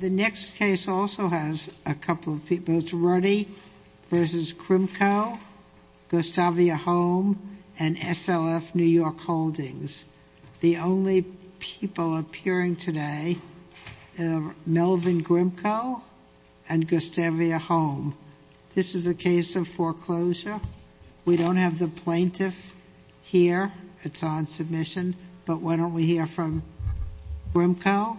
The next case also has a couple of people. It's Ruddy v. Krimko, Gustavia Holm, and SLF New York Holdings. The only people appearing today are Melvin Krimko and Gustavia Holm. This is a case of foreclosure. We don't have the plaintiff here. It's on but why don't we hear from Krimko.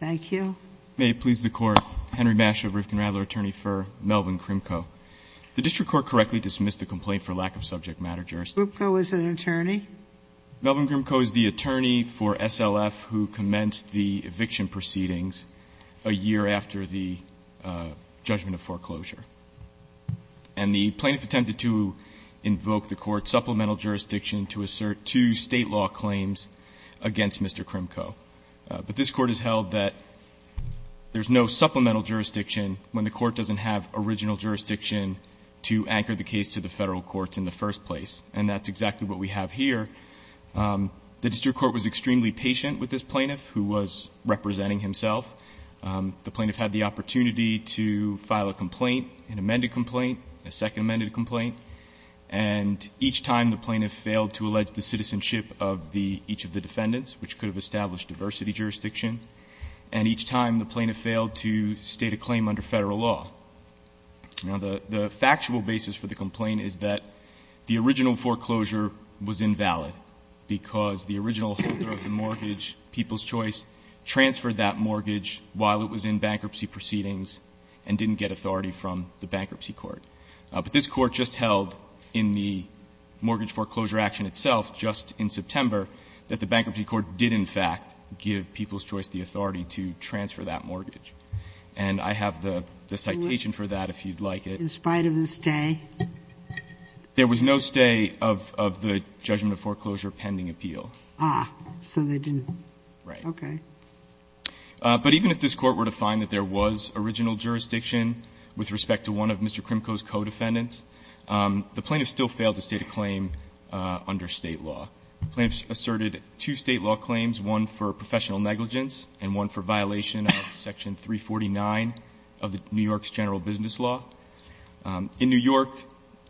Thank you. May it please the court, Henry Masch of Rifkin-Radler, attorney for Melvin Krimko. The district court correctly dismissed the complaint for lack of subject matter jurisdiction. Krimko is an attorney? Melvin Krimko is the attorney for SLF who commenced the eviction proceedings a year after the judgment of foreclosure. And the plaintiff attempted to state law claims against Mr. Krimko. But this court has held that there's no supplemental jurisdiction when the court doesn't have original jurisdiction to anchor the case to the federal courts in the first place. And that's exactly what we have here. The district court was extremely patient with this plaintiff who was representing himself. The plaintiff had the opportunity to file a complaint, an amended complaint, a second amended complaint. And each time the plaintiff failed to allege the citizenship of each of the defendants, which could have established diversity jurisdiction. And each time the plaintiff failed to state a claim under federal law. Now, the factual basis for the complaint is that the original foreclosure was invalid because the original holder of the mortgage, People's Choice, transferred that mortgage while it was in bankruptcy proceedings and didn't get authority from the bankruptcy court. But this court just held in the mortgage foreclosure action itself just in September that the bankruptcy court did, in fact, give People's Choice the authority to transfer that mortgage. And I have the citation for that, if you'd like it. Ginsburg. In spite of the stay? There was no stay of the judgment of foreclosure pending appeal. Ah. So they didn't. Right. Okay. But even if this Court were to find that there was original jurisdiction with respect to one of Mr. Krimko's co-defendants, the plaintiff still failed to state a claim under State law. The plaintiff asserted two State law claims, one for professional negligence and one for violation of Section 349 of New York's general business law. In New York,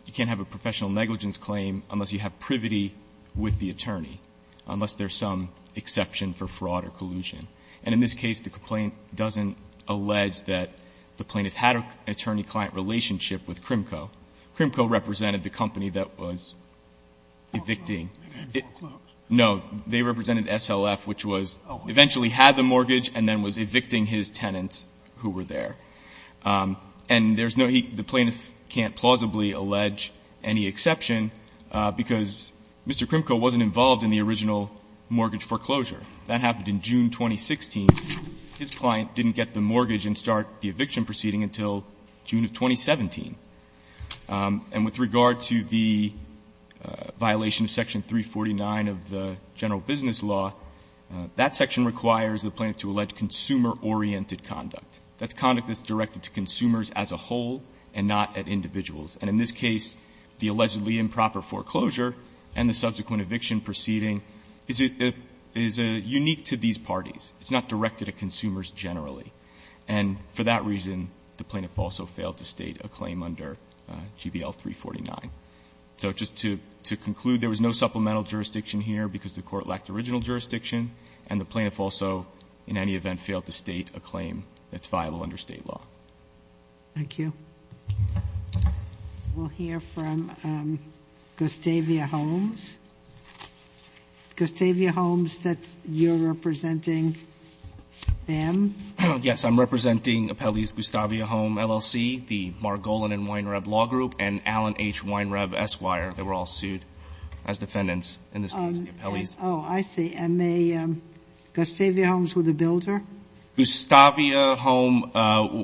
you can't have a professional negligence claim unless you have privity with the attorney, unless there's some exception for fraud or collusion. And in this case, the complaint doesn't allege that the plaintiff had an attorney-client relationship with Krimko. Krimko represented the company that was evicting. It had foreclosed. No. They represented SLF, which was eventually had the mortgage and then was evicting his tenants who were there. And there's no he the plaintiff can't plausibly allege any exception, because Mr. Krimko wasn't involved in the original mortgage foreclosure. That happened in June 2016. His client didn't get the mortgage and start the eviction proceeding until June of 2017. And with regard to the violation of Section 349 of the general business law, that section requires the plaintiff to allege consumer-oriented conduct. That's conduct that's directed to consumers as a whole and not at individuals. And in this case, the allegedly improper foreclosure and the subsequent eviction proceeding is a unique to these parties. It's not directed at consumers generally. And for that reason, the plaintiff also failed to state a claim under GBL 349. So just to conclude, there was no supplemental jurisdiction here because the court lacked original jurisdiction, and the plaintiff also, in any event, failed to state a claim that's viable under State law. Thank you. We'll hear from Gustavia Holmes. Gustavia Holmes, you're representing them? Yes, I'm representing Apelli's Gustavia Holmes LLC, the Margolin and Weinreb Law Group, and Allen H. Weinreb Esquire. They were all sued as defendants in this case. Oh, I see. And Gustavia Holmes was the builder? Gustavia Holmes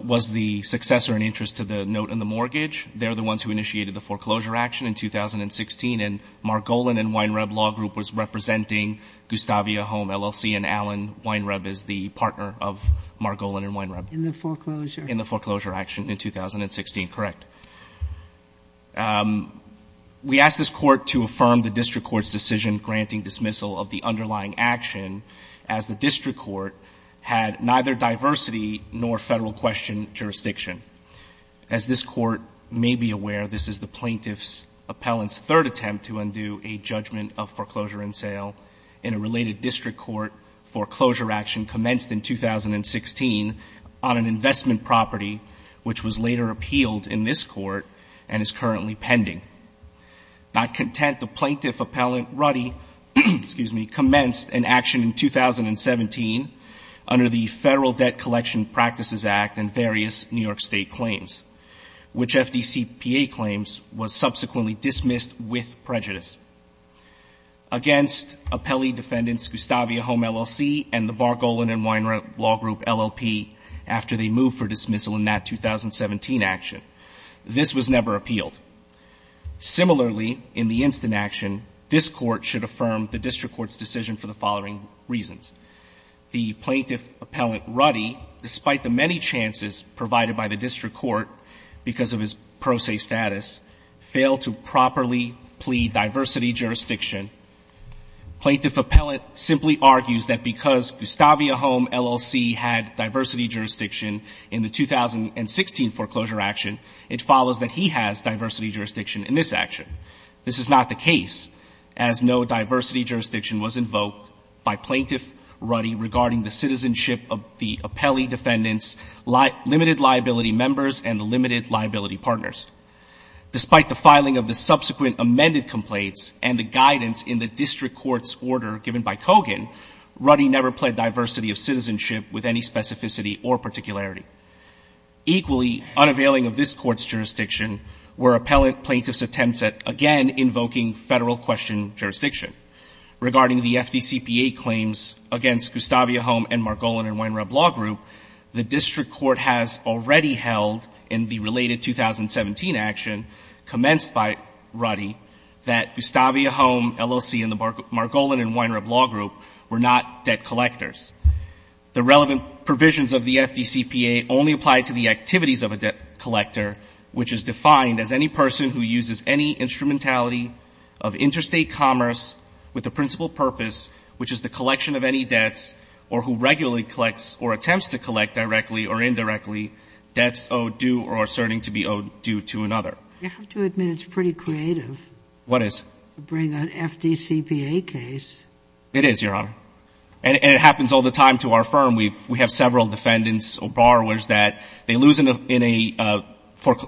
was the successor in interest to the note in the mortgage. They're the ones who initiated the foreclosure action in 2016, and Margolin and Weinreb Law Group was representing Gustavia Holmes LLC, and Allen Weinreb is the partner of Margolin and Weinreb. In the foreclosure? In the foreclosure action in 2016, correct. We asked this court to affirm the district court's decision granting dismissal of the underlying action as the district court had neither diversity nor federal question jurisdiction. As this court may be aware, this is the plaintiff's appellant's third attempt to undo a judgment of foreclosure and sale in a related district court foreclosure action commenced in 2016 on an investment property which was later appealed in this court and is currently pending. Not content, the plaintiff appellant, Ruddy, excuse me, commenced an action in 2017 under the Federal Debt Collection Practices Act and various New York State claims, which FDCPA claims was subsequently dismissed with prejudice against appellee defendants Gustavia Holmes LLC and the Margolin and Weinreb Law Group LLP after they moved for dismissal in that 2017 action. This was never appealed. Similarly, in the instant action, this court should affirm the district court's decision for the following reasons. The plaintiff appellant, Ruddy, despite the many chances provided by the district court because of his pro se status, failed to properly plead diversity jurisdiction. Plaintiff appellant simply argues that because Gustavia Holmes LLC had diversity jurisdiction in the 2016 foreclosure action, it follows that he has diversity jurisdiction in this action. This is not the case, as no diversity jurisdiction was invoked by plaintiff Ruddy regarding the citizenship of the appellee defendants' limited liability members and the limited liability partners. Despite the filing of the subsequent amended complaints and the guidance in the district court's order given by Kogan, Ruddy never pled diversity of citizenship with any specificity or particularity. Equally, unavailing of this court's jurisdiction were appellant plaintiff's attempts at, again, invoking federal question jurisdiction. Regarding the FDCPA claims against Gustavia Holmes and Margolin and Weinreb Law Group, the district court has already held in the related 2017 action commenced by Ruddy that Gustavia Holmes LLC and the Margolin and Weinreb Law Group were not debt collectors. The relevant provisions of the FDCPA only apply to the activities of a debt collector, which is defined as any person who uses any instrumentality of interstate commerce with the principal purpose, which is the collection of any debts, or who regularly collects or attempts to collect directly or indirectly, debts owed due or asserting to be owed due to another. You have to admit it's pretty creative. What is? To bring an FDCPA case. It is, Your Honor. And it happens all the time to our firm. We have several defendants or borrowers that they lose in an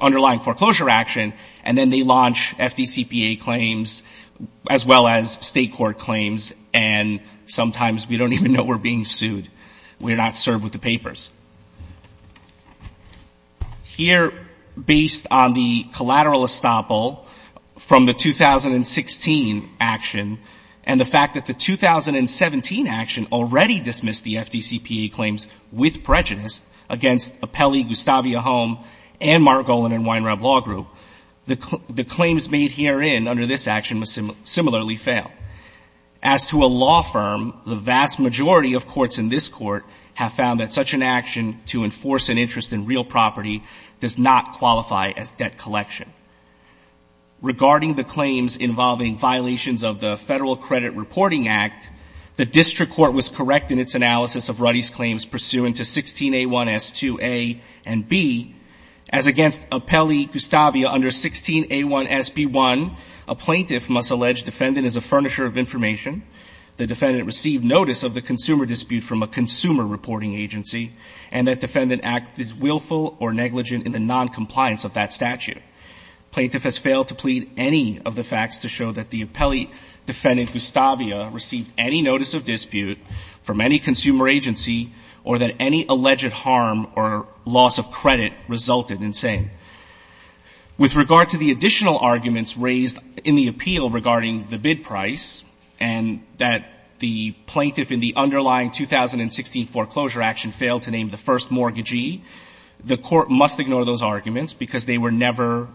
underlying foreclosure action and then they launch FDCPA claims as well as state court claims and sometimes we don't even know we're being sued. We're not served with the papers. Here based on the collateral estoppel from the 2016 action and the fact that the 2017 action already dismissed the FDCPA claims with prejudice against Apelli, Gustavia Home, and Margolin and Weinreb Law Group, the claims made herein under this action must similarly fail. As to a law firm, the vast majority of courts in this court have found that such an action to enforce an interest in real property does not qualify as debt collection. Regarding the claims involving violations of the Federal Credit Reporting Act, the District Court was correct in its analysis of Ruddy's claims pursuant to 16A1S2A and B. As against Apelli, Gustavia under 16A1SB1, a plaintiff must allege defendant is a furnisher of information, the defendant received notice of the consumer dispute from a consumer reporting agency, and that defendant acted willful or negligent in the noncompliance of that statute. Plaintiff has failed to plead any of the facts to show that the Apelli defendant Gustavia received any notice of dispute from any consumer agency or that any alleged harm or loss of credit resulted in saying. With regard to the additional arguments raised in the appeal regarding the bid price and that the plaintiff in the underlying 2016 foreclosure action failed to name the first mortgagee, the court must ignore those arguments because they were never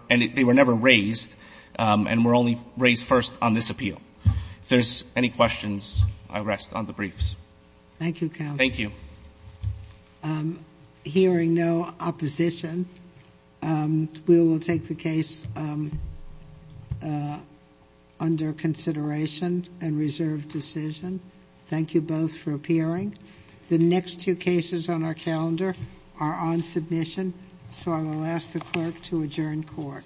raised and were only raised first on this appeal. If there's any questions, I rest on the briefs. Thank you, counsel. Thank you. Hearing no opposition, we will take the case under consideration and reserve decision. Thank you both for appearing. The next two cases on our calendar are on submission, so I will ask the clerk to adjourn court.